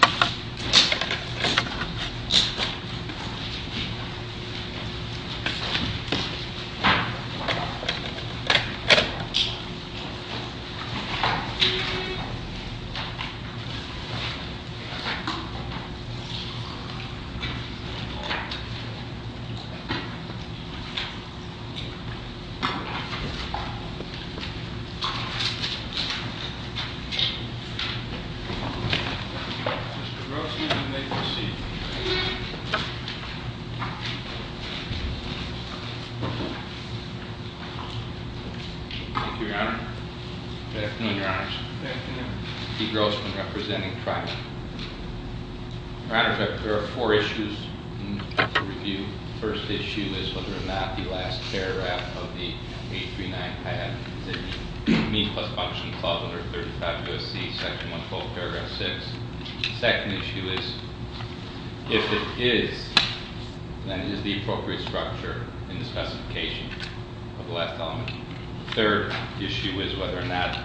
V. Navy Vietnam War veteran Mr. Grossman, you may proceed. Thank you, Your Honor. Good afternoon, Your Honors. Good afternoon. Pete Grossman, representing trial. Your Honor, there are four issues to review. The first issue is whether or not the last paragraph of the 839 had the mean plus function clause under 35 U.S.C. Section 112, paragraph 6. The second issue is, if it is, then is the appropriate structure in the specification of the last element. The third issue is whether or not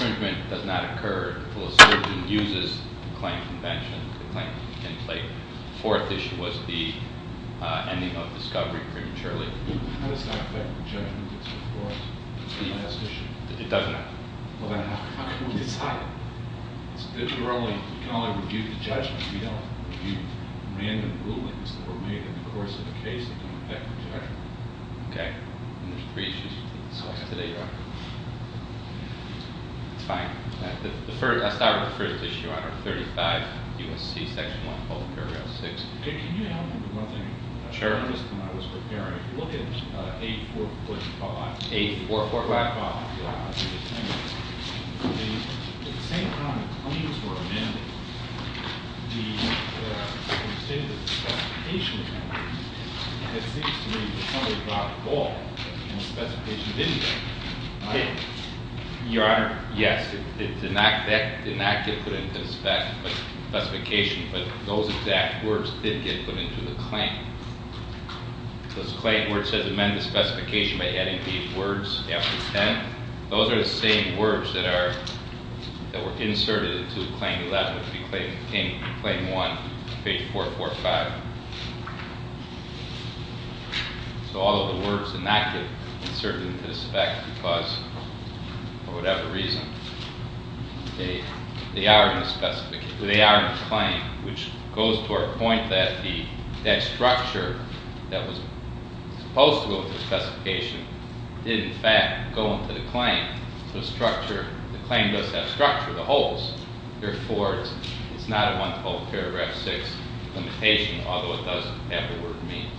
infringement does not occur until a surgeon uses the claim convention, the claim template. The fourth issue was the ending of discovery prematurely. How does that affect the judgment of the court on this issue? It doesn't. Well, then how can we decide it? We can only review the judgment. We don't review random rulings that were made in the course of a case that don't affect the judgment. Okay. And there's three issues to discuss today, Your Honor. That's fine. I'll start with the first issue, Honor, 35 U.S.C. Section 112, paragraph 6. Can you help me with one thing? Sure. When I was preparing, look at 845. 845? Yeah. At the same time the claims were amended, the extended specification amendment, it seems to me that somebody dropped the ball. The specification didn't get put in. Your Honor, yes, it did not get put into the specification, but those exact words did get put into the claim. Those claim, where it says amend the specification by adding these words after the 10, those are the same words that were inserted into Claim 11, which would be Claim 1, page 445. So all of the words did not get inserted into the spec because, for whatever reason, they are in the claim, which goes to our point that that structure that was supposed to go into the specification did, in fact, go into the claim. The claim does have structure, the holes. Therefore, it's not a 112, paragraph 6 limitation, although it does have the word means.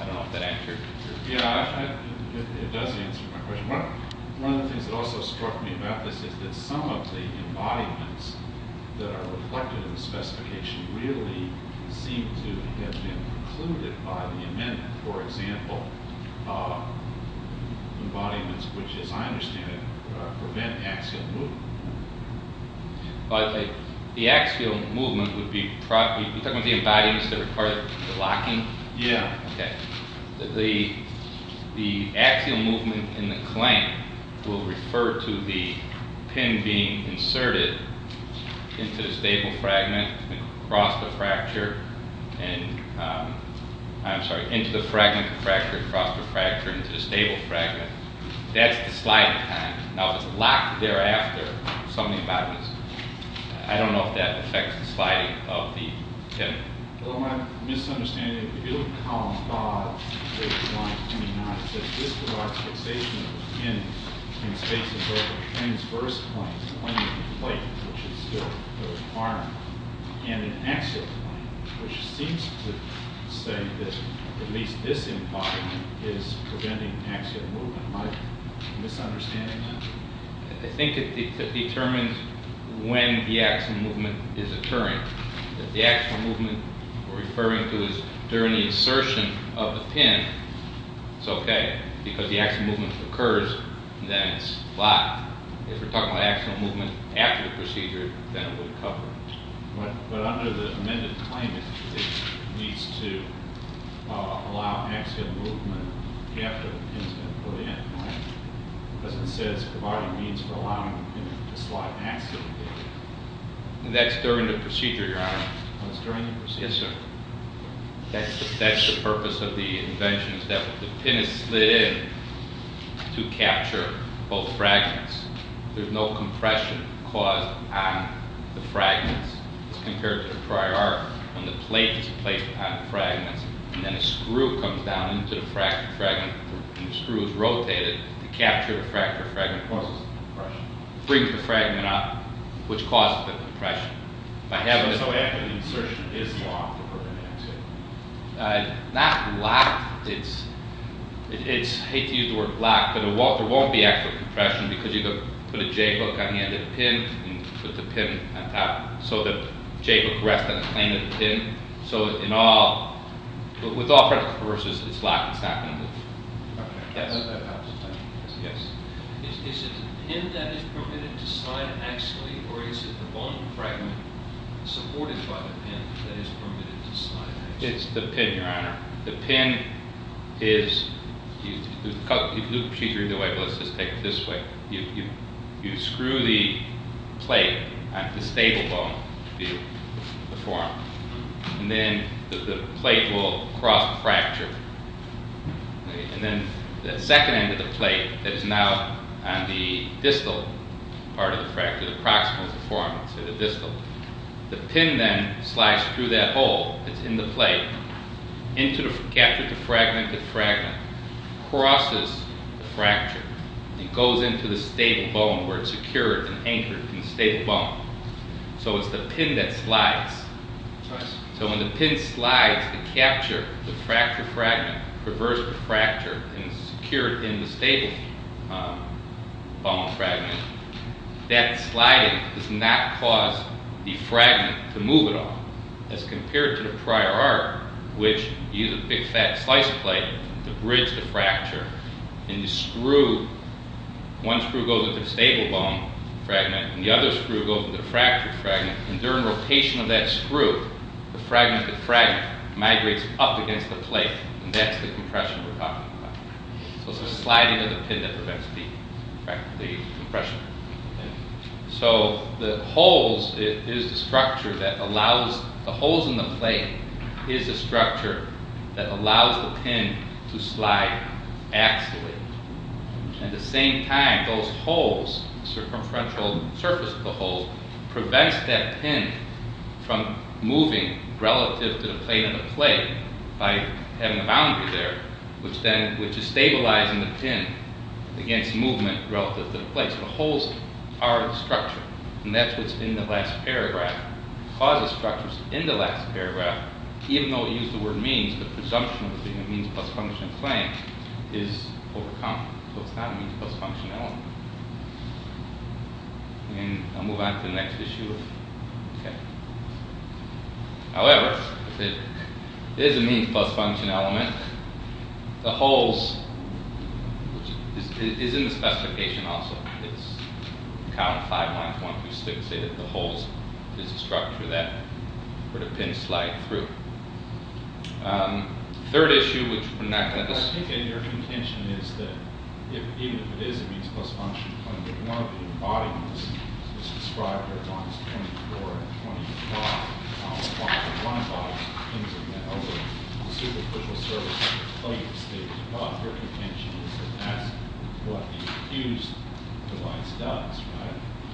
I don't know if that answers your question. Yeah, it does answer my question. One of the things that also struck me about this is that some of the embodiments that are reflected in the specification really seem to have been precluded by the amendment. For example, embodiments which, as I understand it, prevent axial movement. The axial movement would be – you're talking about the embodiments that require the locking? Yeah. Okay. The axial movement in the claim will refer to the pin being inserted into the stable fragment, across the fracture, and – I'm sorry, into the fragment, the fracture, across the fracture, into the stable fragment. That's the sliding time. Now, if it's locked thereafter, some of the embodiments – I don't know if that affects the sliding of the pin. I have a misunderstanding. If you look at column 5, page 29, it says, This provides fixation of the pin in spaces over transverse planes, the plane of the plate, which is the arm, and an axial plane, which seems to say that at least this embodiment is preventing axial movement. Am I misunderstanding that? I think it determines when the axial movement is occurring. If the axial movement we're referring to is during the insertion of the pin, it's okay, because the axial movement occurs, and then it's locked. If we're talking about axial movement after the procedure, then it would cover it. But under the amended claim, it needs to allow axial movement after the pin's been put in, right? Because it says, for allowing the pin to slide axially. That's during the procedure, Your Honor. Oh, it's during the procedure. Yes, sir. That's the purpose of the invention, is that the pin is slid in to capture both fragments. There's no compression caused on the fragments. It's compared to the prior art, when the plate is placed on the fragments, and then a screw comes down into the fragment, and the screw is rotated to capture the fragment. What causes the compression? It brings the fragment up, which causes the compression. So after the insertion, it's locked? Not locked. I hate to use the word locked, but there won't be actual compression, because you can put a J-hook on the end of the pin, and put the pin on top, so the J-hook rests on the plane of the pin. So with all practical purposes, it's locked, it's not going to move. Okay. Yes. Is it the pin that is permitted to slide axially, or is it the bone fragment supported by the pin that is permitted to slide axially? It's the pin, Your Honor. The pin is, the procedure either way, but let's just take it this way. You screw the plate onto the stable bone to deform it, and then the plate will cross the fracture. And then the second end of the plate that is now on the distal part of the fracture, the proximal deformance of the distal, the pin then slides through that hole that's in the plate, captured the fragment. The fragment crosses the fracture. It goes into the stable bone where it's secured and anchored in the stable bone. So it's the pin that slides. So when the pin slides to capture the fracture fragment, reverse the fracture, and secure it in the stable bone fragment, that sliding does not cause the fragment to move at all. As compared to the prior art, One screw goes into the stable bone fragment, and the other screw goes into the fracture fragment, and during rotation of that screw, the fragment migrates up against the plate, and that's the compression we're talking about. So it's the sliding of the pin that prevents the compression. So the holes in the plate is the structure that allows the pin to slide axially. At the same time, those holes, the circumferential surface of the holes, prevents that pin from moving relative to the plate on the plate by having a boundary there, which is stabilizing the pin against movement relative to the plate. So the holes are a structure, and that's what's in the last paragraph. Because the structure's in the last paragraph, even though it used the word means, the presumption of being a means-plus-function claim is overcome. So it's not a means-plus-function element. I'll move on to the next issue. However, if it is a means-plus-function element, the holes, which is in the specification also, count five minus one, two, six, say that the holes is a structure that would a pin slide through. Third issue, which we're not going to discuss.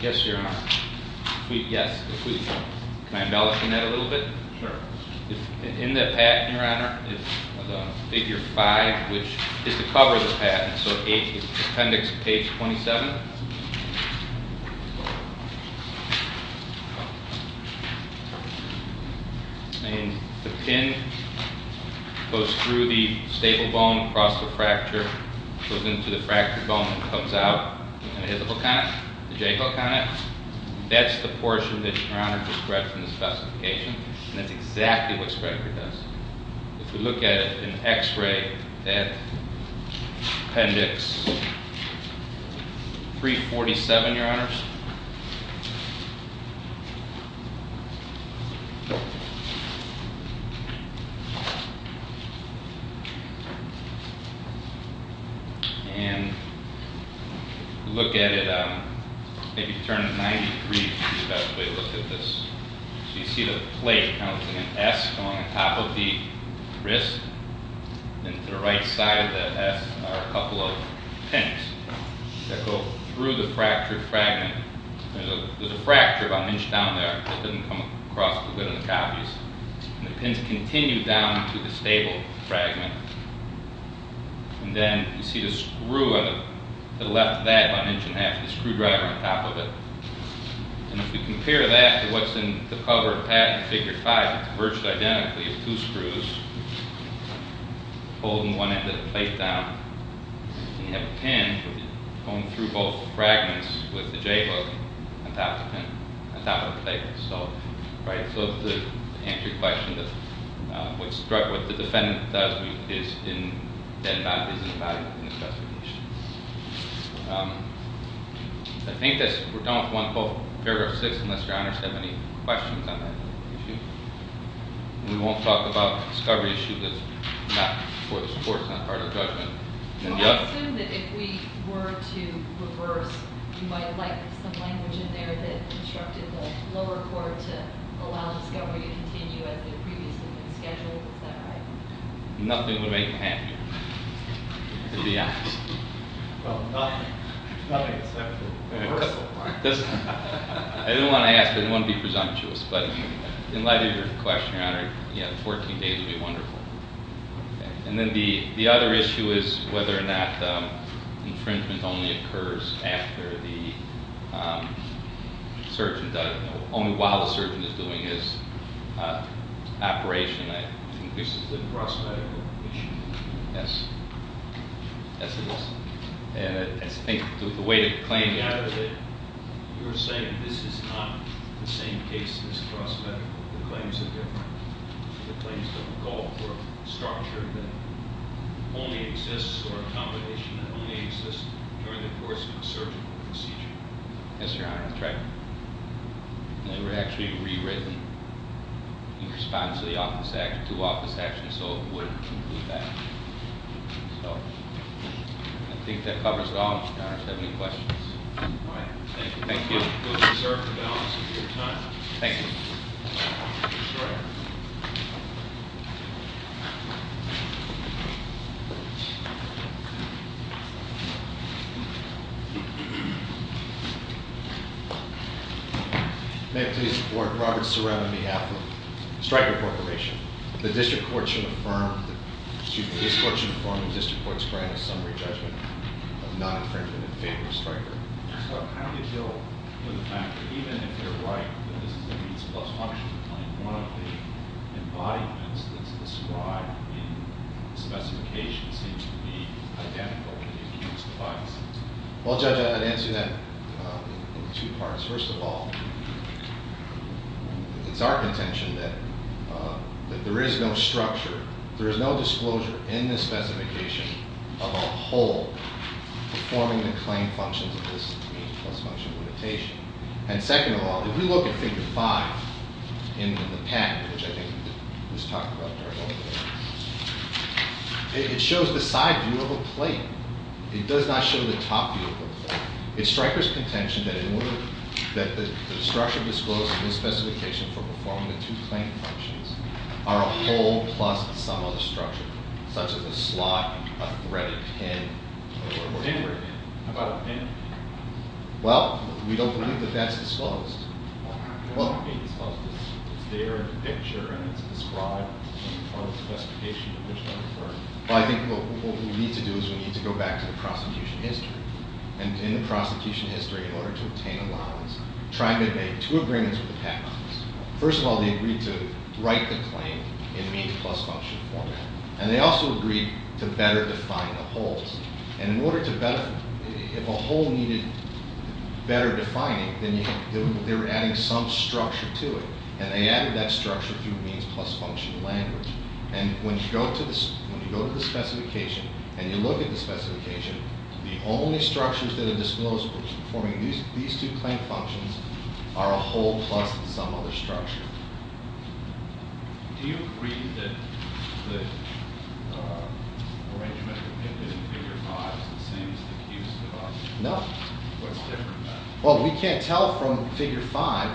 Yes, Your Honor. Yes. Can I embellish on that a little bit? In the patent, Your Honor, it's figure five, which is to cover the patent. So it's appendix page 27. And the pin goes through the stable bone, across the fracture, goes into the fractured bone, and comes out, and it has a hook on it, a J-hook on it. That's the portion that Your Honor described in the specification, and that's exactly what Sprecher does. If we look at it in x-ray at appendix 347, Your Honor, and look at it, maybe turn it 90 degrees, would be the best way to look at this. So you see the plate, kind of like an S, going on top of the wrist. And to the right side of that S are a couple of pins that go through the fractured fragment. There's a fracture about an inch down there. It doesn't come across as good on the copies. And the pins continue down to the stable fragment. And then you see the screw on the left of that, about an inch and a half, the screwdriver on top of it. And if we compare that to what's in the cover of patent figure 5, it's virtually identically two screws holding one end of the plate down. And you have a pin going through both fragments with the J-hook on top of the plate. So, right, so to answer your question, what the defendant does is not in the specification. I think that we're done with paragraph 6, unless your honors have any questions on that issue. And we won't talk about a discovery issue that's not part of the court's judgment. I assume that if we were to reverse, you might like some language in there that instructed the lower court to allow discovery to continue as it previously had been scheduled. Is that right? Nothing would make me happier. To be honest. Well, nothing. Nothing except the reversal part. I didn't want to ask. I didn't want to be presumptuous. But in light of your question, your honor, 14 days would be wonderful. And then the other issue is whether or not infringement only occurs after the surgeon does it, only while the surgeon is doing his operation. I think this is a cross-medical issue. Yes. Yes, it is. And I think the way to claim that is that you're saying this is not the same case as cross-medical. The claims are different. The claims don't call for a structure that only exists or a combination that only exists during the course of a surgeon procedure. Yes, your honor, that's right. And they were actually rewritten in response to the office action, and so it would include that. So I think that covers it all, your honor. Do you have any questions? All right. Thank you. Thank you. You'll be served for the balance of your time. Thank you. Mr. Ray. May I please report, Robert Serrano on behalf of Striker Corporation, that his court should affirm the district court's grant of summary judgment of non-infringement in favor of Striker. How do you deal with the fact that even if they're right, that this is a means plus function claim, one of the embodiments that's described in the specification seems to be identical to the accused's biases? Well, Judge, I'd answer that in two parts. First of all, it's our contention that there is no structure, there is no disclosure in the specification of a whole performing the claim functions of this means plus function limitation. And second of all, if you look at Figure 5 in the packet, which I think was talked about earlier, it shows the side view of a plate. It does not show the top view of a plate. It's Striker's contention that the structure disclosed in this specification for performing the two claim functions are a whole plus some other structure, such as a slot, a thread, a pin, or whatever. A pin? How about a pin? Well, we don't believe that that's disclosed. Well, it's there in the picture, and it's described in the part of the specification in which they're referred. But I think what we need to do is we need to go back to the prosecution history. And in the prosecution history, in order to obtain allowance, try to make two agreements with the patent office. First of all, they agreed to write the claim in means plus function format. And they also agreed to better define the whole. And in order to better, if a whole needed better defining, then they were adding some structure to it. And they added that structure through means plus function language. And when you go to the specification and you look at the specification, the only structures that are disclosed for performing these two claim functions are a whole plus some other structure. Do you agree that the arrangement depicted in Figure 5 is the same as the Houston one? No. What's different about it? Well, we can't tell from Figure 5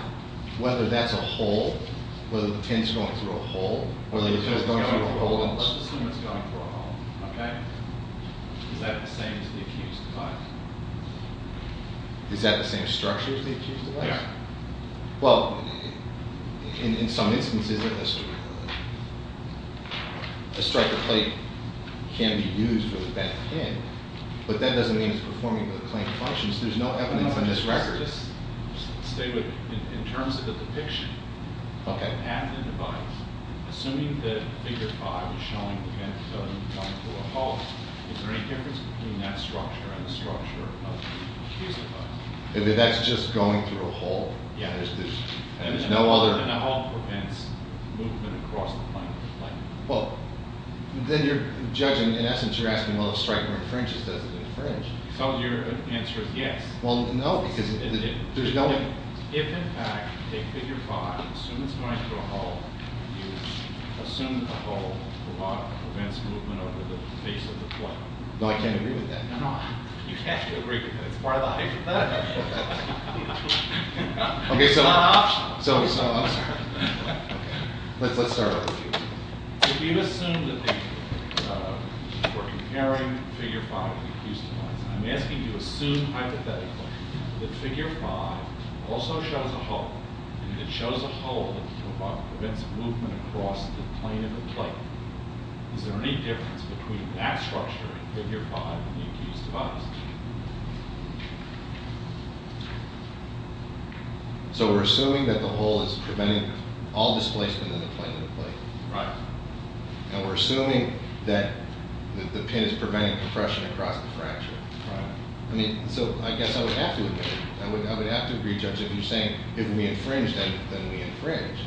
whether that's a whole, whether the pin's going through a hole, whether the pin's going through a hole in the system. Okay. Is that the same as the accused's device? Is that the same structure as the accused's device? Yeah. Well, in some instances, a striker plate can be used for the bent pin, but that doesn't mean it's performing the claim functions. There's no evidence on this record. Just stay with me. In terms of the depiction, at the device, assuming that Figure 5 is showing the bent pin going through a hole, is there any difference between that structure and the structure of the accused's device? That's just going through a hole. Yeah. And a hole prevents movement across the plank. Well, then you're judging. In essence, you're asking, well, if striker infringes, does it infringe? So your answer is yes. Well, no, because there's no— If, in fact, you take Figure 5, assume it's going through a hole, you assume that the hole prevents movement over the base of the plank. No, I can't agree with that. No, you have to agree with that. It's part of the hypothetical. It's not optional. I'm sorry. Let's start over. If you assume that they were comparing Figure 5 to the accused's device, I'm asking you to assume hypothetically that Figure 5 also shows a hole, and it shows a hole that prevents movement across the plane of the plank. Is there any difference between that structure and Figure 5 in the accused's device? So we're assuming that the hole is preventing all displacement in the plane of the plank. Right. And we're assuming that the pin is preventing compression across the fracture. Right. I mean, so I guess I would have to agree. I would have to agree, Judge, if you're saying if we infringe, then we infringe.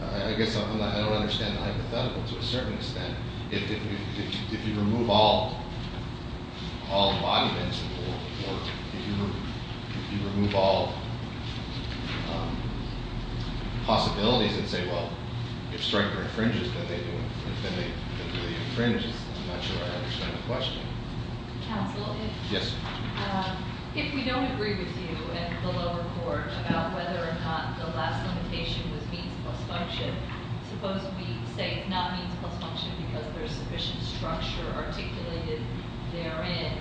I guess I don't understand the hypothetical to a certain extent. If you remove all arguments, or if you remove all possibilities and say, well, if Stryker infringes, then they infringe. I'm not sure I understand the question. Counsel? Yes. If we don't agree with you in the lower court about whether or not the last limitation was means plus function, suppose we say it's not means plus function because there's sufficient structure articulated therein,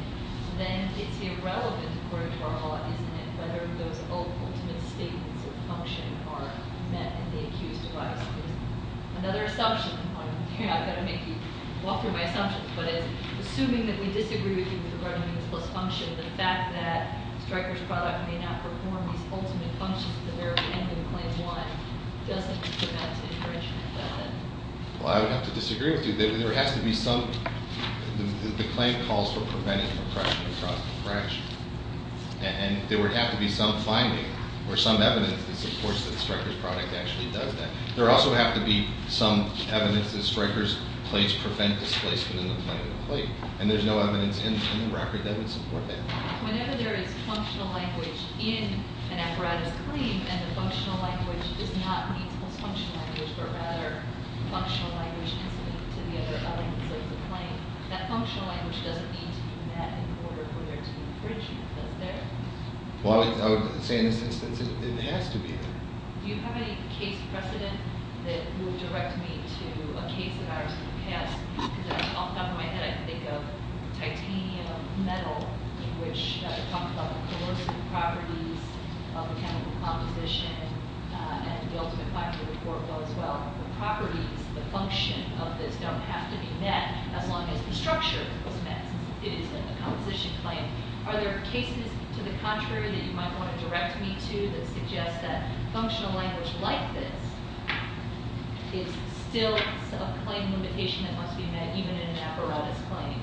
then it's irrelevant according to our law, isn't it, whether those ultimate statements of function are met in the accused's device. There's another assumption. I've got to make you walk through my assumptions. But it's assuming that we disagree with you regarding means plus function, the fact that Stryker's product may not perform these ultimate functions to the very end of Claim 1 doesn't put that situation in effect. Well, I would have to disagree with you. There has to be some, the claim calls for preventing oppression across the fraction. And there would have to be some finding or some evidence that supports that Stryker's product actually does that. There would also have to be some evidence that Stryker's plates prevent displacement in the plate. And there's no evidence in the record that would support that. Whenever there is functional language in an apparatus claim and the functional language is not means plus functional language, but rather functional language incident to the other elements of the claim, that functional language doesn't need to be met in order for there to be infringement, does there? Well, I would say in this instance it has to be met. Do you have any case precedent that would direct me to a case of ours in the past? Because off the top of my head I can think of titanium, metal, in which we talked about the coercive properties of the chemical composition and the ultimate fact of the court as well. The properties, the function of this don't have to be met as long as the structure is met. It is a composition claim. Are there cases to the contrary that you might want to direct me to that suggest that functional language like this is still a claim limitation and must be met even in an apparatus claim?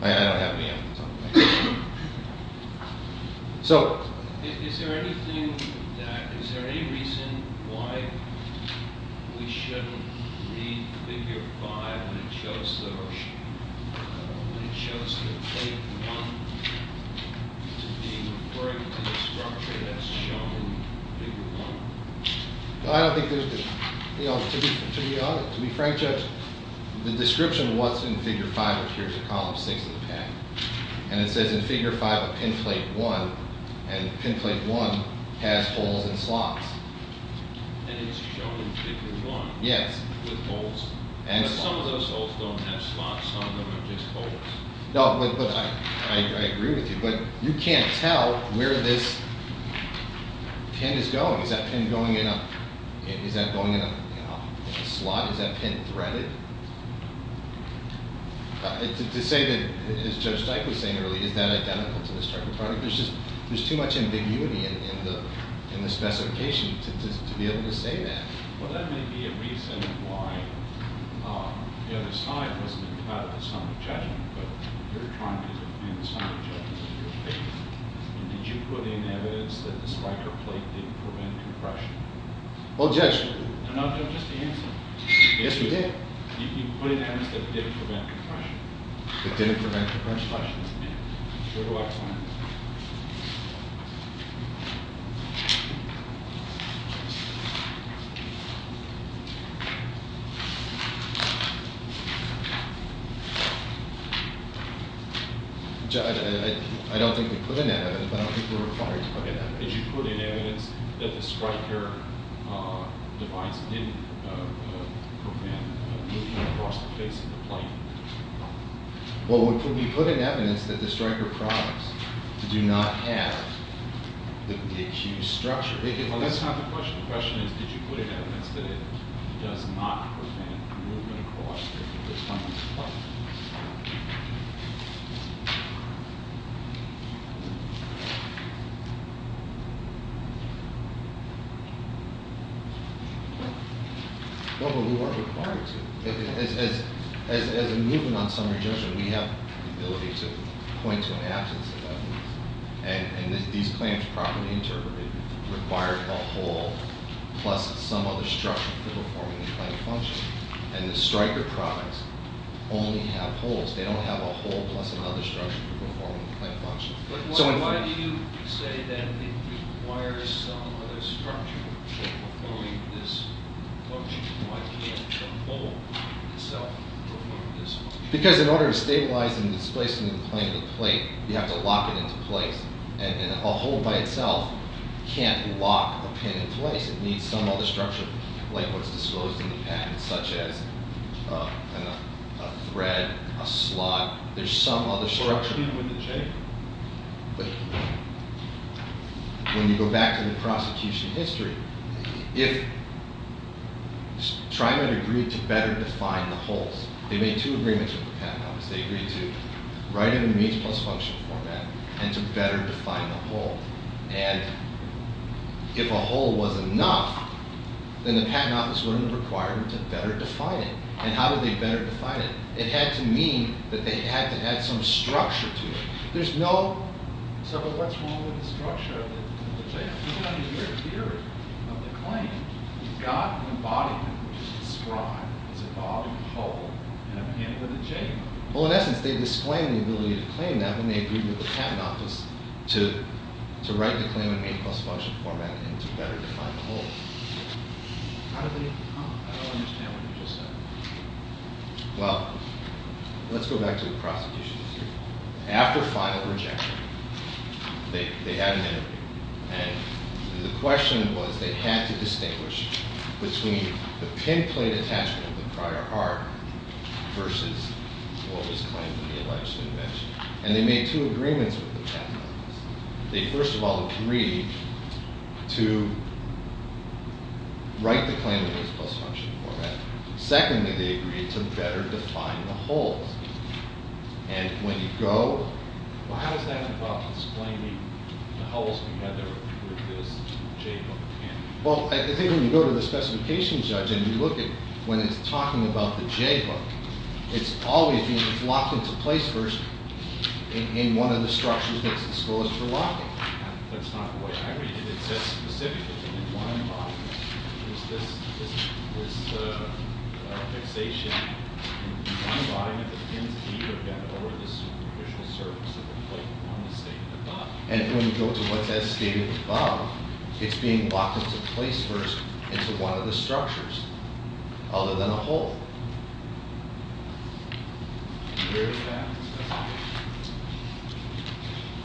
I don't have any evidence on that. So, is there anything that, is there any reason why we shouldn't read figure 5 when it shows the plate 1 to be referring to the structure that's shown in figure 1? I don't think there's, you know, to be honest, to be frank, Judge, the description of what's in figure 5 appears in column 6 of the patent. And it says in figure 5 a pin plate 1, and pin plate 1 has holes and slots. And it's shown in figure 1. Yes. With holes and slots. Some of those holes don't have slots, some of them are just holes. No, but I agree with you. But you can't tell where this pin is going. Is that pin going in a slot? Is that pin threaded? To say that, as Judge Steich was saying earlier, is that identical to this type of product? There's too much ambiguity in the specification to be able to say that. Well, that may be a reason why the other side wasn't entitled to some judgment, but you're trying to defend some of the judgments in your case. Did you put in evidence that the spiker plate didn't prevent compression? Well, Judge. No, no, just the answer. Yes, we did. You put in evidence that it didn't prevent compression. It didn't prevent compression? Yes. Where do I find it? I don't think we put in evidence, but I don't think we're required to put in evidence. Did you put in evidence that the spiker device didn't prevent moving across the face of the plate? Well, we put in evidence that the striker products do not have the accused structure. Well, that's not the question. The question is, did you put in evidence that it does not prevent moving across the face of the plate? No, but we weren't required to. As a movement on summary judgment, we have the ability to point to an absence of evidence. And these claims, properly interpreted, require a hole plus some other structure for performing the claim function. And the striker products only have holes. They don't have a hole plus another structure for performing the claim function. But why do you say that it requires some other structure for performing this function? Why can't the hole itself perform this function? Because in order to stabilize and displace the plane of the plate, you have to lock it into place. And a hole by itself can't lock a pin in place. It needs some other structure, like what's disclosed in the package, such as a thread, a slot. There's some other structure. But when you go back to the prosecution history, if TriMet agreed to better define the holes, they made two agreements with the Patent Office. They agreed to write it in the means plus function format and to better define the hole. And if a hole was enough, then the Patent Office wouldn't have required them to better define it. And how did they better define it? It had to mean that they had to add some structure to it. There's no, so what's wrong with the structure of the plate? You can only hear it here, of the claim. You've got an embodiment, which is described as a body, a hole, and a pin with a J on it. Well, in essence, they've disclaimed the ability to claim that when they agreed with the Patent Office to write the claim in means plus function format and to better define the hole. How did they, I don't understand what you just said. Well, let's go back to the prosecution history. After final rejection, they had an interview. And the question was they had to distinguish between the pinplate attachment of the prior art versus what was claimed in the alleged invention. And they made two agreements with the Patent Office. They, first of all, agreed to write the claim in means plus function format. Secondly, they agreed to better define the hole. And when you go… Well, how does that involve explaining the holes together with this J-hook pin? Well, I think when you go to the specification judge and you look at when it's talking about the J-hook, it's always being locked into place first in one of the structures that's disclosed for locking. That's not the way I read it. It says specifically in one embodiment, there's this fixation in one embodiment that pins the J-hook end over the superficial surface of the plate on the statement above. And when you go to what's as stated above, it's being locked into place first into one of the structures other than a hole. Where is that?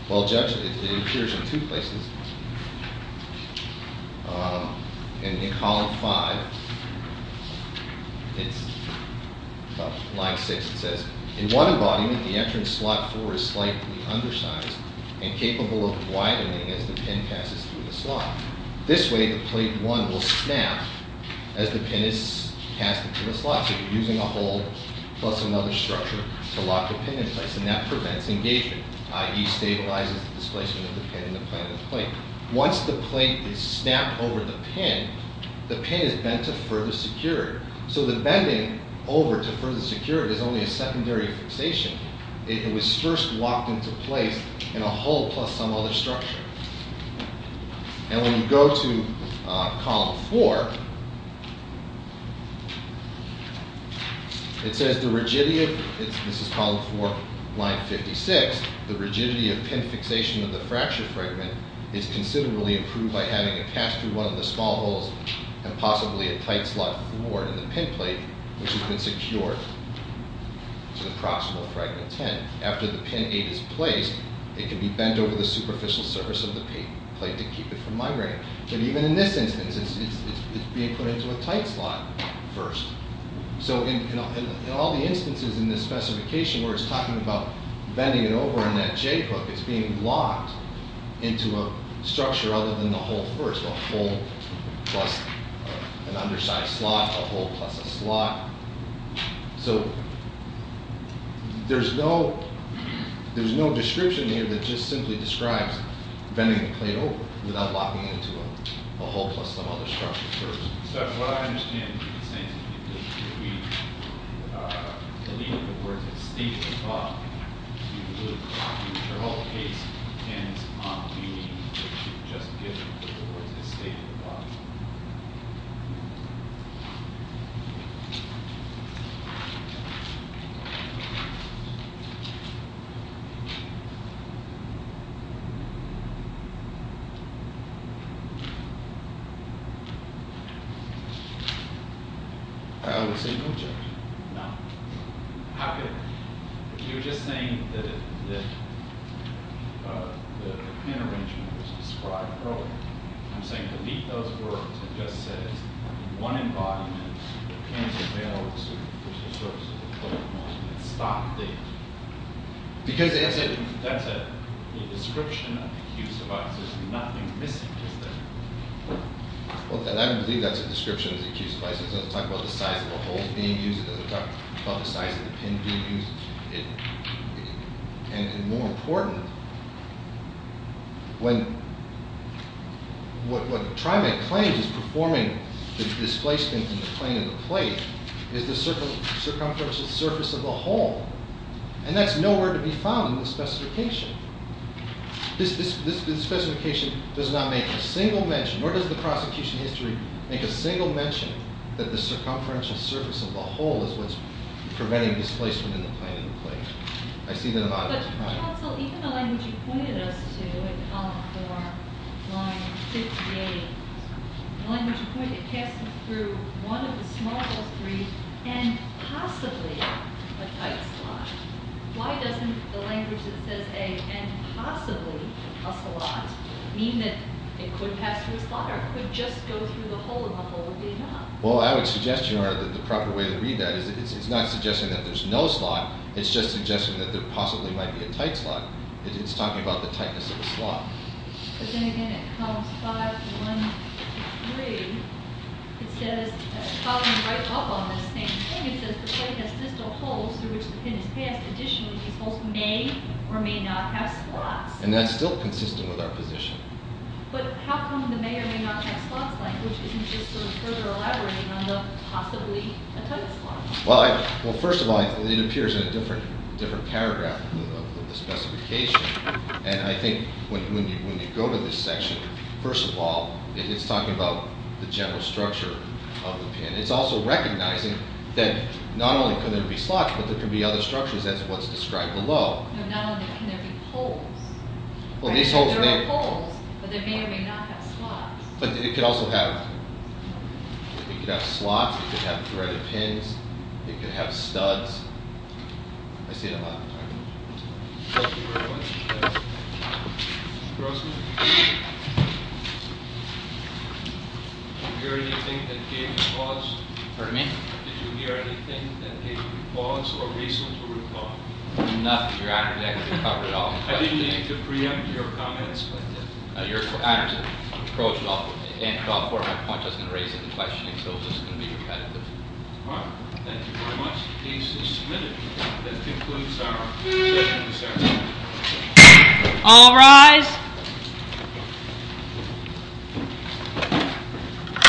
Well, judge, it appears in two places. In column five, it's line six. It says, in one embodiment, the entrance slot four is slightly undersized and capable of widening as the pin passes through the slot. This way, the plate one will snap as the pin is cast into the slot. So you're using a hole plus another structure to lock the pin in place, and that prevents engagement, i.e., stabilizes the displacement of the pin in the plane of the plate. Once the plate is snapped over the pin, the pin is bent to further secure it. So the bending over to further secure it is only a secondary fixation. It was first locked into place in a hole plus some other structure. And when you go to column four, it says the rigidity of—this is column four, line 56— the rigidity of pin fixation of the fracture fragment is considerably improved by having it pass through one of the small holes and possibly a tight slot four in the pin plate, which has been secured to the proximal fragment ten. After the pin eight is placed, it can be bent over the superficial surface of the plate to keep it from migrating. And even in this instance, it's being put into a tight slot first. So in all the instances in this specification where it's talking about bending it over on that J-hook, it's being locked into a structure other than the hole first, so there's no description here that just simply describes bending the plate over without locking it into a hole plus some other structure first. So that's what I understand you're saying to me, that if we deleted the words, the state of the thought, you would—your whole case depends on the meaning that you've just given with the words the state of the thought. I would say no, sir. No. How could—you were just saying that the intervention was described earlier. I'm saying delete those words that just said one embodiment that can't be available to superficial surfaces of the plate and stop the— Because that's it. That's it. The description of the huge device, there's nothing missing, is there? Well, I believe that's a description of the huge device. It doesn't talk about the size of the holes being used. It doesn't talk about the size of the pin being used. And more important, when— what TriMet claims is performing the displacement in the plane of the plate is the circumferential surface of the hole, and that's nowhere to be found in the specification. This specification does not make a single mention, nor does the prosecution history make a single mention that the circumferential surface of the hole is what's preventing displacement in the plane of the plate. I see that about it. But counsel, even the language you pointed us to in column four, line 58, the language you pointed cast us through one of the smallest three, and possibly a tight slide. Why doesn't the language that says a and possibly a slot mean that it could pass through a slot or it could just go through the hole and the hole would be enough? Well, I would suggest, Your Honor, that the proper way to read that is it's not suggesting that there's no slot. It's just suggesting that there possibly might be a tight slot. It's talking about the tightness of a slot. But then again, in columns five, one, three, it says, following right up on this same thing, it says the plate has distal holes through which the pin is passed. Additionally, these holes may or may not have slots. And that's still consistent with our position. But how come the may or may not have slots language isn't just sort of further elaborating on the possibly a tight slot? Well, first of all, it appears in a different paragraph of the specification. And I think when you go to this section, first of all, it's talking about the general structure of the pin. And it's also recognizing that not only can there be slots, but there can be other structures. That's what's described below. Not only that, can there be holes? There are holes, but there may or may not have slots. But it could also have slots. It could have threaded pins. It could have studs. I say that a lot. Thank you very much. Mr. Grossman? Did you hear anything that gave you pause? Pardon me? Did you hear anything that gave you pause or reason to recall? Enough. I didn't mean to preempt your comments. I just approached it off of a point. I was going to raise it in questioning. So this is going to be repetitive. All right. Thank you very much. The case is submitted. That concludes our session this afternoon. All rise.